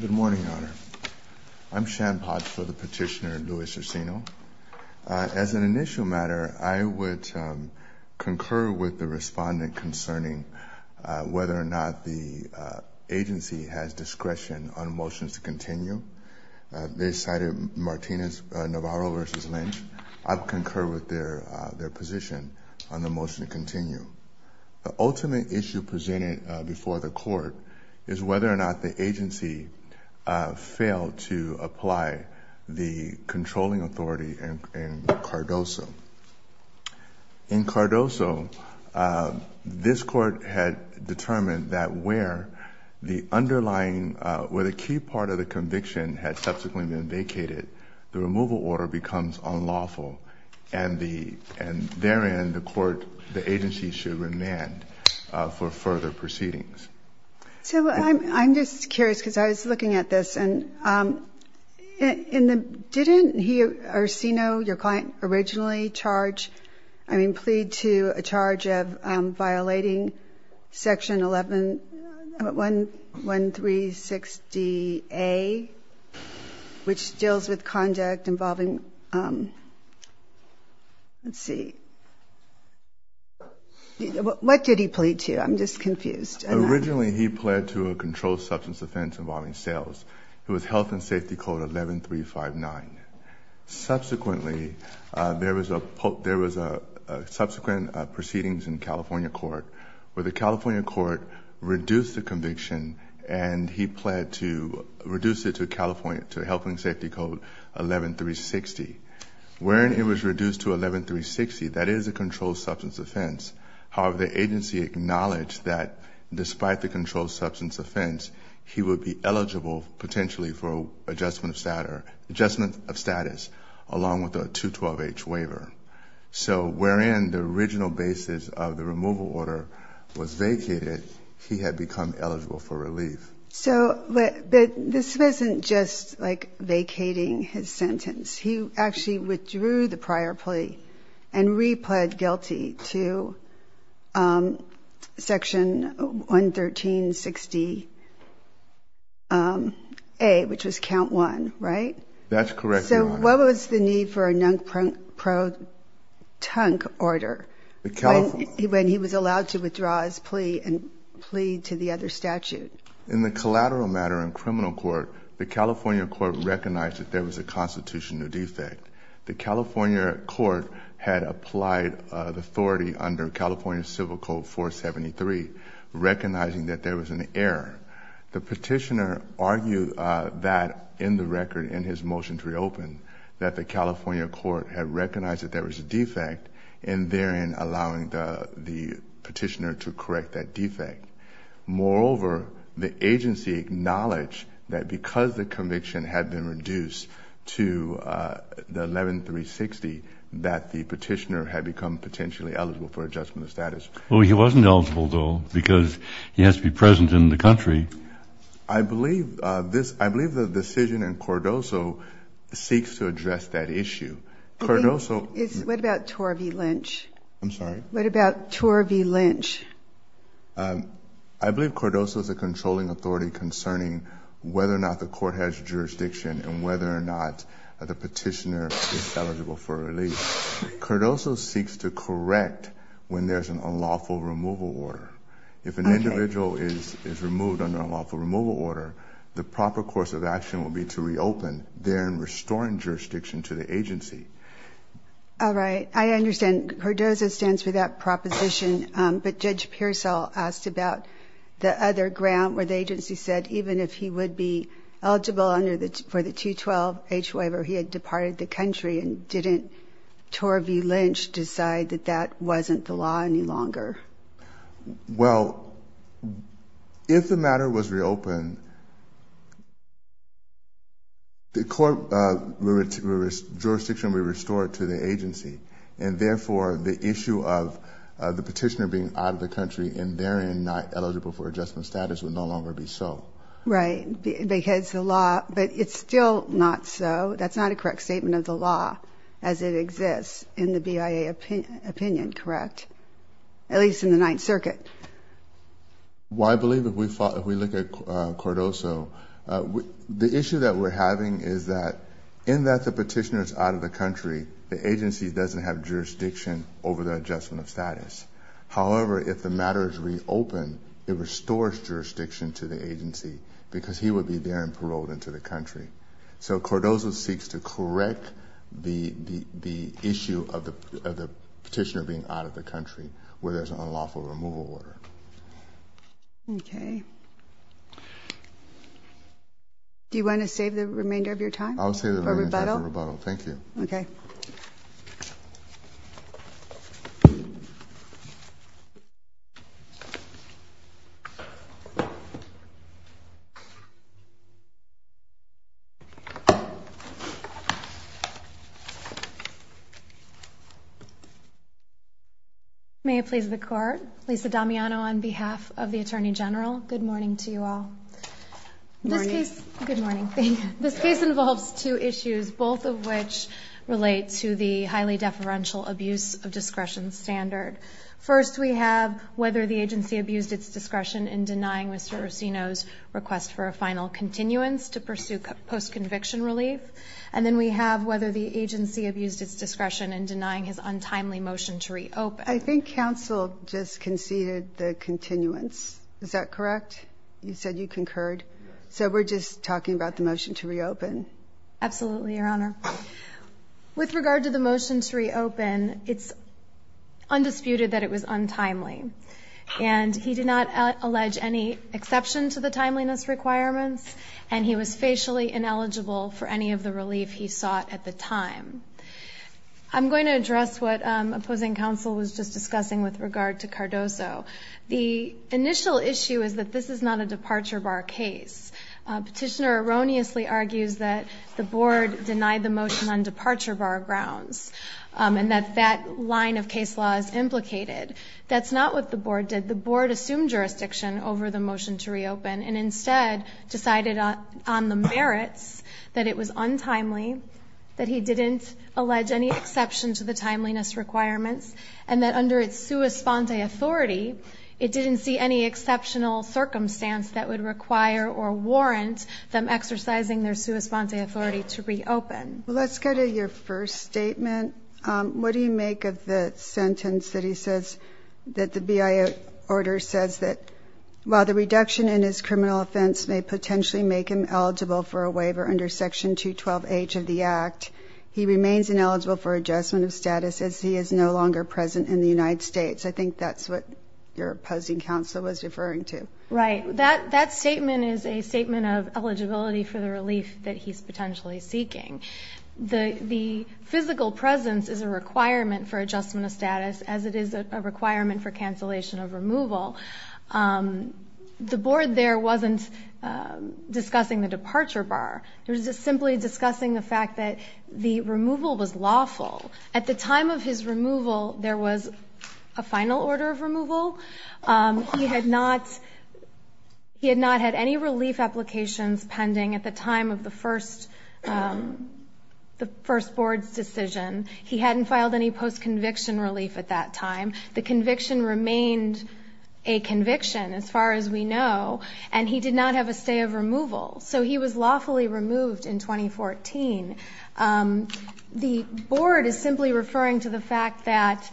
Good morning, Your Honor. I'm Shan Podge for the petitioner Louis Urcino. As an initial matter, I would concur with the respondent concerning whether or not the agency has discretion on motions to continue. They cited Martinez-Navarro v. Lynch. I would concur with their position on the motion to continue. The ultimate issue presented before the court is whether or not the agency failed to apply the controlling authority in Cardoso. In Cardoso, this court had determined that where the underlying, where the key part of the conviction had subsequently been vacated, the removal order becomes unlawful, and therein the agency should remand for further proceedings. So I'm just curious, because I was looking at this, and didn't he, Urcino, your client, originally charge, I mean, plead to a charge of violating Section 11360A, which deals with conduct involving, let's see, what did he plead to? I'm just confused. Urcino V. Lynch Originally, he pled to a controlled substance offense involving sales. It was health and safety code 11359. Subsequently, there was a subsequent proceedings in California court where the California court reduced the conviction, and he pled to reduce it to California, to health and safety code 11360. Wherein it was reduced to 11360, that is a controlled substance offense. However, the agency acknowledged that despite the controlled substance offense, he would be eligible potentially for adjustment of status, along with a 212H waiver. So wherein the original basis of the removal order was vacated, he had become eligible for relief. So this wasn't just, like, vacating his sentence. He actually withdrew the prior plea and re-pled guilty to Section 11360A, which was count one, right? That's correct, Your Honor. So what was the need for a non-pro-tunk order when he was allowed to withdraw his plea and plead to the other statute? In the collateral matter in criminal court, the California court recognized that there was a constitutional defect. The California court had applied the authority under California Civil Code 473, recognizing that there was an error. The petitioner argued that in the record, in his motion to reopen, that the California court had recognized that there was a defect, and therein allowing the petitioner to correct that defect. Moreover, the agency acknowledged that because the conviction had been reduced to the 11360, that the petitioner had become potentially eligible for adjustment of status. Well, he wasn't eligible, though, because he has to be present in the country. I believe the decision in Cordoso seeks to address that issue. What about Torvey Lynch? I'm sorry? What about Torvey Lynch? I believe Cordoso is a controlling authority concerning whether or not the court has jurisdiction and whether or not the petitioner is eligible for release. Cordoso seeks to correct when there's an unlawful removal order. If an individual is removed under an unlawful removal order, the proper course of action will be to reopen, then restoring jurisdiction to the agency. All right. I understand Cordoso stands for that proposition, but Judge Pearsall asked about the other grant where the agency said even if he would be eligible for the 212-H waiver, he had departed the country, and didn't Torvey Lynch decide that that wasn't the law any longer? Well, if the matter was reopened, the court jurisdiction would be restored to the agency, and therefore the issue of the petitioner being out of the country and therein not eligible for adjustment status would no longer be so. Right. Because the law, but it's still not so. That's not a correct statement of the law as it exists in the BIA opinion, correct? At least in the Ninth Circuit. Well, I believe if we look at Cordoso, the issue that we're having is that in that the petitioner is out of the country, the agency doesn't have jurisdiction over the adjustment of status. However, if the matter is reopened, it restores jurisdiction to the agency because he would be there and paroled into the country. So Cordoso seeks to correct the issue of the petitioner being out of the country where there's an unlawful removal order. Okay. Do you want to save the remainder of your time? I'll save the remainder of my time for rebuttal. Thank you. Okay. Thank you. May it please the Court. Lisa Damiano on behalf of the Attorney General. Good morning to you all. Morning. Good morning. This case involves two issues, both of which relate to the highly deferential abuse of discretion standard. First, we have whether the agency abused its discretion in denying Mr. Rossino's request for a final continuance to pursue post-conviction relief. And then we have whether the agency abused its discretion in denying his untimely motion to reopen. I think counsel just conceded the continuance. Is that correct? You said you concurred. So we're just talking about the motion to reopen? Absolutely, Your Honor. With regard to the motion to reopen, it's undisputed that it was untimely. And he did not allege any exception to the timeliness requirements, and he was facially ineligible for any of the relief he sought at the time. I'm going to address what opposing counsel was just discussing with regard to Cardoso. The initial issue is that this is not a departure bar case. Petitioner erroneously argues that the board denied the motion on departure bar grounds and that that line of case law is implicated. That's not what the board did. The board assumed jurisdiction over the motion to reopen and instead decided on the merits that it was untimely, that he didn't allege any exception to the timeliness requirements, and that under its sua sponte authority, it didn't see any exceptional circumstance that would require or warrant them exercising their sua sponte authority to reopen. Well, let's go to your first statement. What do you make of the sentence that he says that the BIA order says that, while the reduction in his criminal offense may potentially make him eligible for a waiver under Section 212H of the Act, he remains ineligible for adjustment of status as he is no longer present in the United States? I think that's what your opposing counsel was referring to. Right. That statement is a statement of eligibility for the relief that he's potentially seeking. The physical presence is a requirement for adjustment of status, as it is a requirement for cancellation of removal. The board there wasn't discussing the departure bar. It was simply discussing the fact that the removal was lawful. At the time of his removal, there was a final order of removal. He had not had any relief applications pending at the time of the first board's decision. He hadn't filed any post-conviction relief at that time. The conviction remained a conviction, as far as we know, and he did not have a stay of removal. So he was lawfully removed in 2014. The board is simply referring to the fact that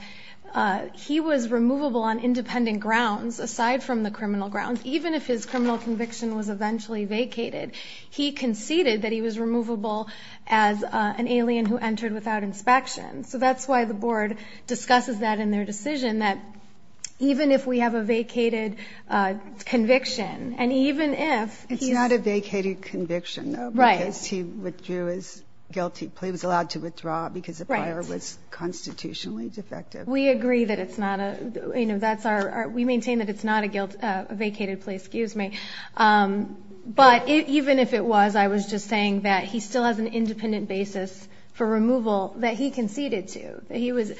he was removable on independent grounds, aside from the criminal grounds, even if his criminal conviction was eventually vacated. He conceded that he was removable as an alien who entered without inspection. So that's why the board discusses that in their decision, that even if we have a vacated conviction, and even if he's- He had a vacated conviction, though, because he withdrew his guilty plea. He was allowed to withdraw because the prior was constitutionally defective. We agree that it's not a-we maintain that it's not a vacated plea. But even if it was, I was just saying that he still has an independent basis for removal that he conceded to.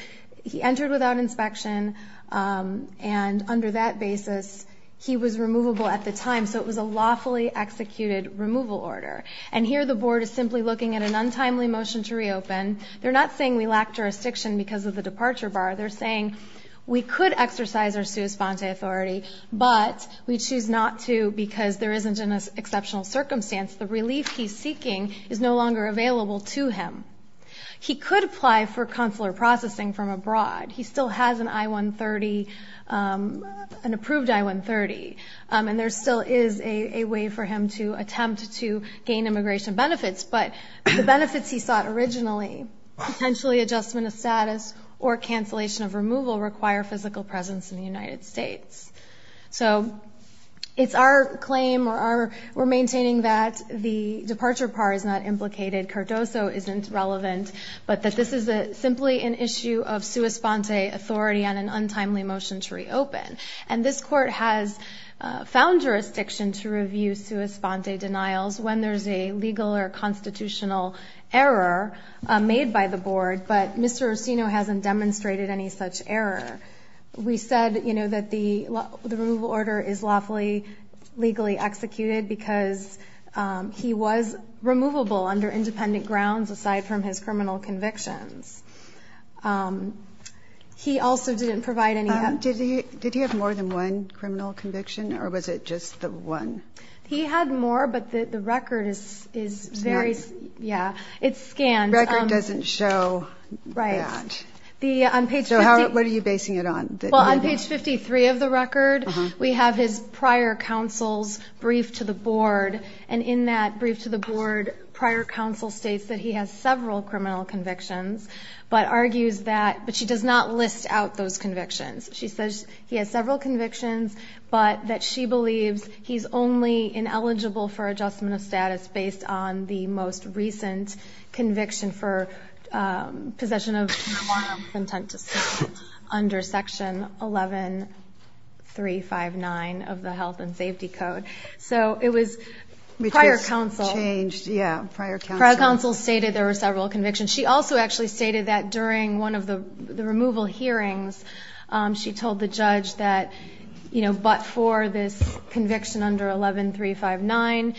He entered without inspection, and under that basis, he was removable at the time. So it was a lawfully executed removal order. And here the board is simply looking at an untimely motion to reopen. They're not saying we lack jurisdiction because of the departure bar. They're saying we could exercise our sui sponte authority, but we choose not to because there isn't an exceptional circumstance. The relief he's seeking is no longer available to him. He could apply for consular processing from abroad. He still has an I-130, an approved I-130, and there still is a way for him to attempt to gain immigration benefits. But the benefits he sought originally, potentially adjustment of status or cancellation of removal, require physical presence in the United States. So it's our claim or our-we're maintaining that the departure bar is not implicated. Cardoso isn't relevant. But that this is simply an issue of sui sponte authority on an untimely motion to reopen. And this court has found jurisdiction to review sui sponte denials when there's a legal or constitutional error made by the board. But Mr. Rossino hasn't demonstrated any such error. We said, you know, that the removal order is lawfully, legally executed because he was removable under independent grounds aside from his criminal convictions. He also didn't provide any- Did he have more than one criminal conviction, or was it just the one? He had more, but the record is very- Yeah, it's scanned. The record doesn't show that. Right. So what are you basing it on? Well, on page 53 of the record, we have his prior counsel's brief to the board. And in that brief to the board, prior counsel states that he has several criminal convictions, but argues that-but she does not list out those convictions. She says he has several convictions, but that she believes he's only ineligible for adjustment of status based on the most recent conviction for possession of marijuana with intent to sell under Section 11359 of the Health and Safety Code. So it was prior counsel- Which was changed, yeah, prior counsel. Prior counsel stated there were several convictions. She also actually stated that during one of the removal hearings, she told the judge that, you know, but for this conviction under 11359,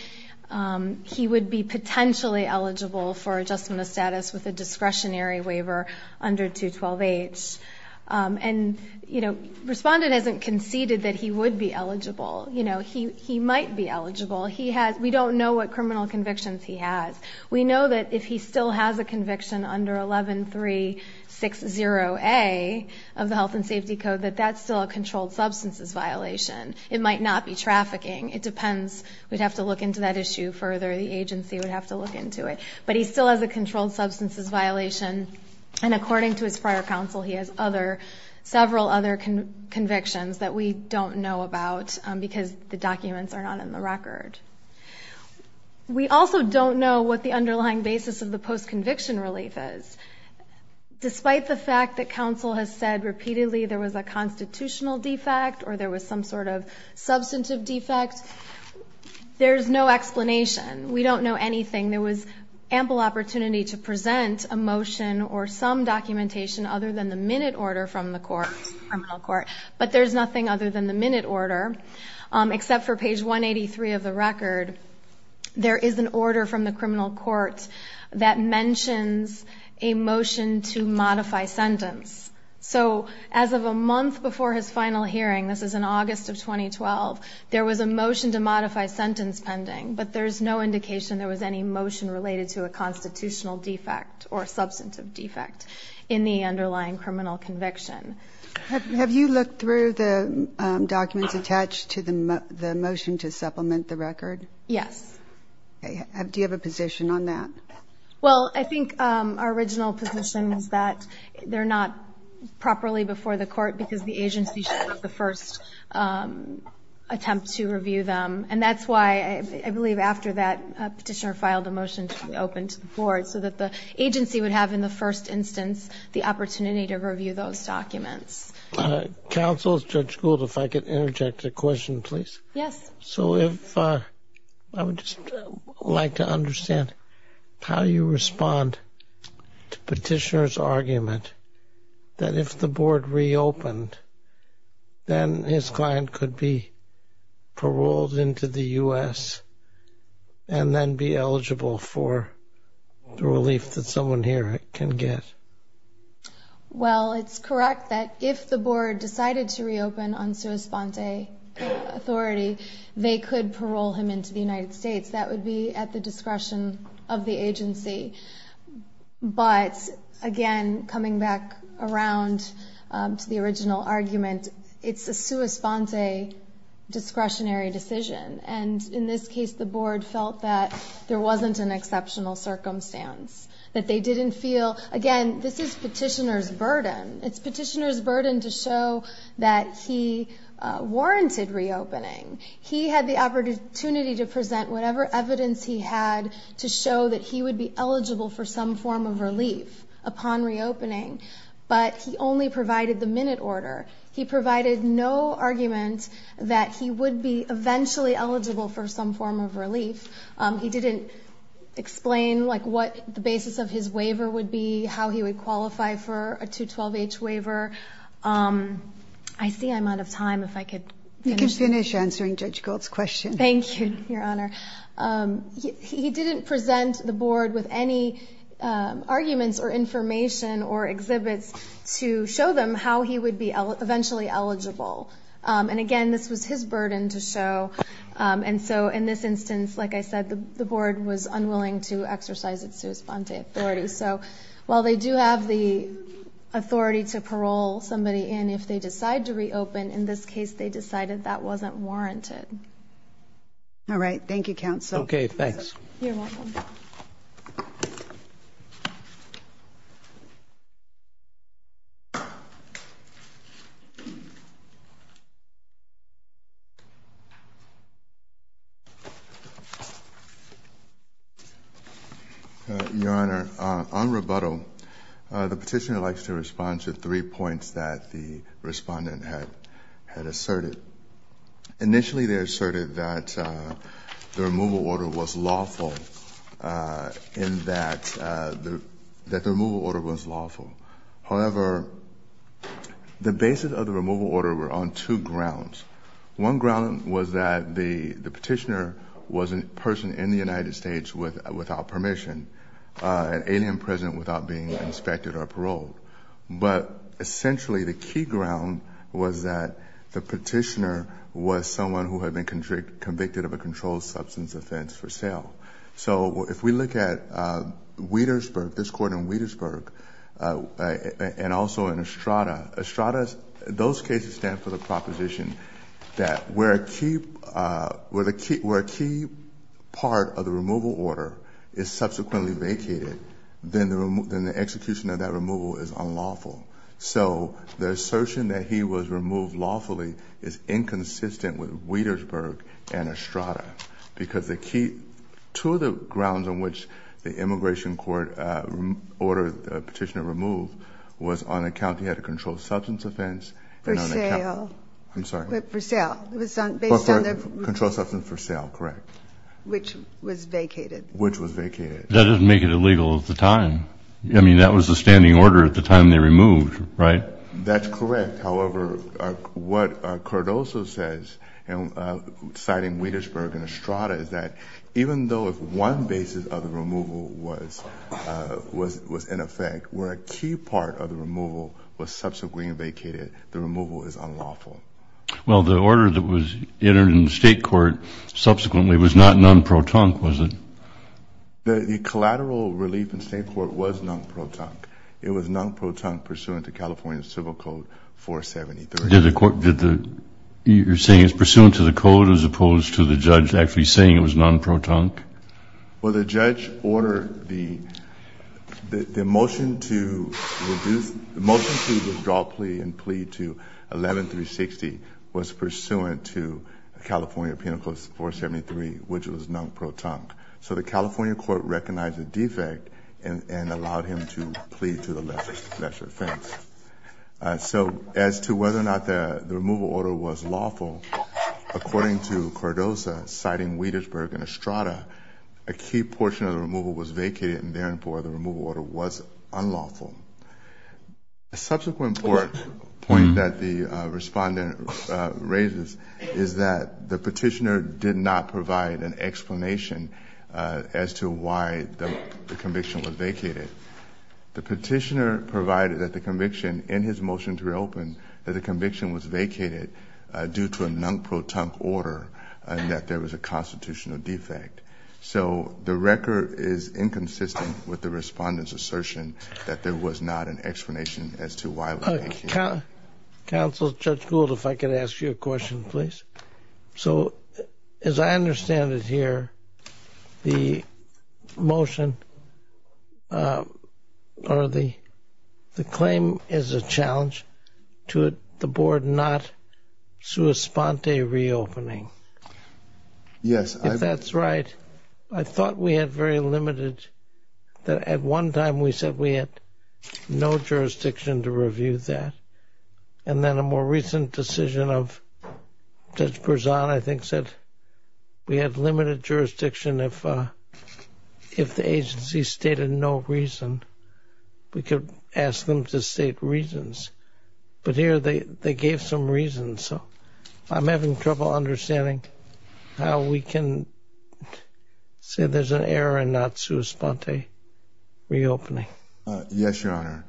he would be potentially eligible for adjustment of status with a discretionary waiver under 212H. And, you know, respondent hasn't conceded that he would be eligible. You know, he might be eligible. We don't know what criminal convictions he has. We know that if he still has a conviction under 11360A of the Health and Safety Code, that that's still a controlled substances violation. It might not be trafficking. It depends. We'd have to look into that issue further. The agency would have to look into it. But he still has a controlled substances violation, and according to his prior counsel, he has other-several other convictions that we don't know about because the documents are not in the record. We also don't know what the underlying basis of the post-conviction relief is. Despite the fact that counsel has said repeatedly there was a constitutional defect or there was some sort of substantive defect, there's no explanation. We don't know anything. There was ample opportunity to present a motion or some documentation other than the minute order from the court, criminal court, but there's nothing other than the minute order, except for page 183 of the record. There is an order from the criminal court that mentions a motion to modify sentence. So as of a month before his final hearing, this is in August of 2012, there was a motion to modify sentence pending, but there's no indication there was any motion related to a constitutional defect or substantive defect in the underlying criminal conviction. Have you looked through the documents attached to the motion to supplement the record? Yes. Okay. Do you have a position on that? Well, I think our original position is that they're not properly before the court because the agency should have the first attempt to review them, and that's why I believe after that a petitioner filed a motion to open to the board so that the agency would have in the first instance the opportunity to review those documents. Counsel, Judge Gould, if I could interject a question, please. Yes. So if I would just like to understand how you respond to petitioner's argument that if the board reopened, then his client could be paroled into the U.S. and then be eligible for the relief that someone here can get? Well, it's correct that if the board decided to reopen on sua sponte authority, they could parole him into the United States. That would be at the discretion of the agency. But, again, coming back around to the original argument, it's a sua sponte discretionary decision. And in this case, the board felt that there wasn't an exceptional circumstance, that they didn't feel, again, this is petitioner's burden. It's petitioner's burden to show that he warranted reopening. He had the opportunity to present whatever evidence he had to show that he would be eligible for some form of relief upon reopening. But he only provided the minute order. He provided no argument that he would be eventually eligible for some form of relief. He didn't explain, like, what the basis of his waiver would be, how he would qualify for a 212H waiver. I see I'm out of time. If I could finish. Answering Judge Gould's question. Thank you, Your Honor. He didn't present the board with any arguments or information or exhibits to show them how he would be eventually eligible. And, again, this was his burden to show. And so in this instance, like I said, the board was unwilling to exercise its sua sponte authority. So while they do have the authority to parole somebody in if they decide to reopen, in this case they decided that wasn't warranted. All right. Thank you, Counsel. Okay, thanks. You're welcome. Your Honor, on rebuttal, the petitioner likes to respond to three points that the respondent had asserted. Initially they asserted that the removal order was lawful in that the removal order was lawful. However, the basis of the removal order were on two grounds. One ground was that the petitioner was a person in the United States without permission, an alien present without being inspected or paroled. But essentially the key ground was that the petitioner was someone who had been convicted of a controlled substance offense for sale. So if we look at Wietersburg, this court in Wietersburg, and also in Estrada, Estrada, those cases stand for the proposition that where a key part of the removal order is subsequently vacated, then the execution of that removal is unlawful. So the assertion that he was removed lawfully is inconsistent with Wietersburg and Estrada because the key, two of the grounds on which the immigration court ordered the petitioner removed was on account he had a controlled substance offense. For sale. I'm sorry. For sale. Based on the. Controlled substance for sale, correct. Which was vacated. Which was vacated. That doesn't make it illegal at the time. I mean, that was the standing order at the time they removed, right? That's correct. However, what Cardoso says, citing Wietersburg and Estrada, is that even though if one basis of the removal was in effect, where a key part of the removal was subsequently vacated, the removal is unlawful. Well, the order that was entered in the state court subsequently was not non-pro-tunk, was it? The collateral relief in state court was non-pro-tunk. It was non-pro-tunk pursuant to California Civil Code 473. Did the court, did the, you're saying it's pursuant to the code as opposed to the judge actually saying it was non-pro-tunk? Well, the judge ordered the motion to withdraw plea and plea to 11-360 was pursuant to California Penal Code 473, which was non-pro-tunk. So the California court recognized the defect and allowed him to plea to the lesser offense. So as to whether or not the removal order was lawful, according to Cardoso, citing Wietersburg and Estrada, a key portion of the removal was vacated and therefore the removal order was unlawful. A subsequent point that the respondent raises is that the petitioner did not provide an explanation as to why the conviction was vacated. The petitioner provided that the conviction in his motion to reopen, that the conviction was vacated due to a non-pro-tunk order and that there was a constitutional defect. So the record is inconsistent with the respondent's assertion that there was not an explanation as to why it was vacated. Counsel, Judge Gould, if I could ask you a question, please. So as I understand it here, the motion or the claim is a challenge to the board not sua sponte reopening. Yes. If that's right. I thought we had very limited, that at one time we said we had no jurisdiction to review that. And then a more recent decision of Judge Berzon, I think, said we had limited jurisdiction if the agency stated no reason. We could ask them to state reasons. But here they gave some reasons. So I'm having trouble understanding how we can say there's an error and not sua sponte reopening. Yes, Your Honor.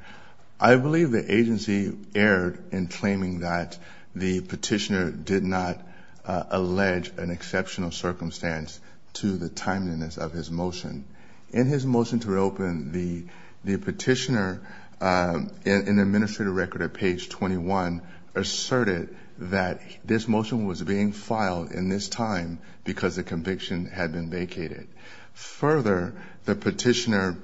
I believe the agency erred in claiming that the petitioner did not allege an exceptional circumstance to the timeliness of his motion. In his motion to reopen, the petitioner in the administrative record at page 21 asserted that this motion was being filed in this time because the conviction had been vacated. Further, the petitioner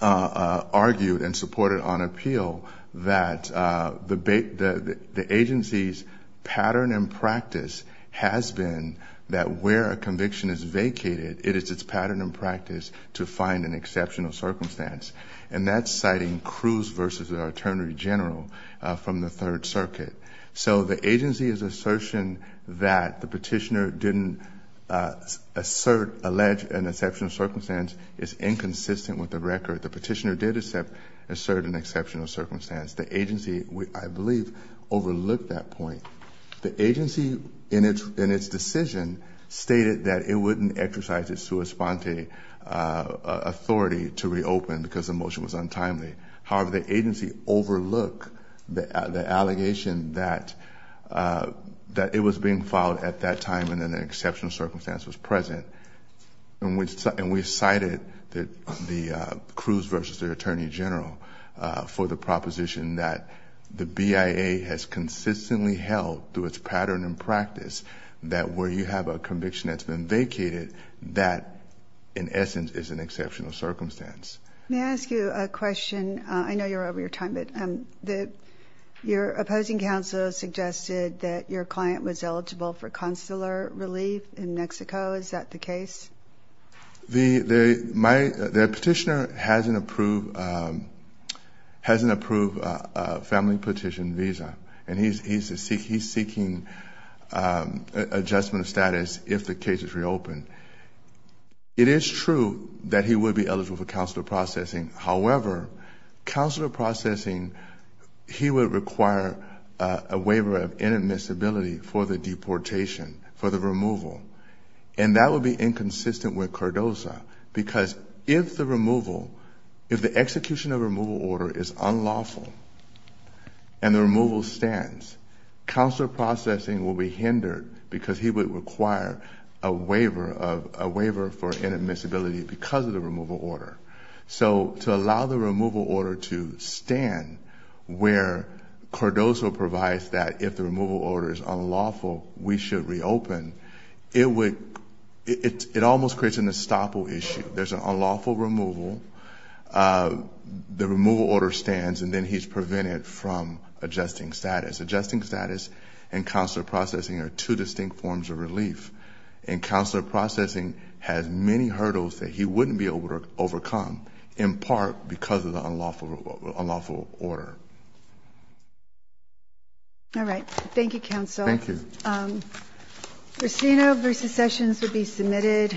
argued and supported on appeal that the agency's pattern and practice has been that where a conviction is vacated, it is its pattern and practice to find an exceptional circumstance. And that's citing Cruz versus the Attorney General from the Third Circuit. So the agency's assertion that the petitioner didn't assert, allege an exceptional circumstance is inconsistent with the record. The petitioner did assert an exceptional circumstance. The agency, I believe, overlooked that point. The agency in its decision stated that it wouldn't exercise its sua sponte authority to reopen because the motion was untimely. However, the agency overlooked the allegation that it was being filed at that time and an exceptional circumstance was present. And we cited the Cruz versus the Attorney General for the proposition that the BIA has consistently held through its pattern and practice that where you have a conviction that's been vacated, that in essence is an exceptional circumstance. May I ask you a question? I know you're over your time, but your opposing counsel suggested that your client was eligible for consular relief in Mexico. Is that the case? The petitioner has an approved family petition visa, and he's seeking adjustment of status if the case is reopened. It is true that he would be eligible for consular processing. However, consular processing, he would require a waiver of inadmissibility for the deportation, for the removal. And that would be inconsistent with CARDOZA because if the removal, if the execution of removal order is unlawful and the removal stands, consular processing will be hindered because he would require a waiver for inadmissibility because of the removal order. So to allow the removal order to stand where CARDOZA provides that if the removal order is unlawful, we should reopen, it would, it almost creates an estoppel issue. There's an unlawful removal. The removal order stands, and then he's prevented from adjusting status. Adjusting status and consular processing are two distinct forms of relief. And consular processing has many hurdles that he wouldn't be able to overcome, in part because of the unlawful order. All right. Thank you, Counsel. Thank you. Crescino v. Sessions would be submitted.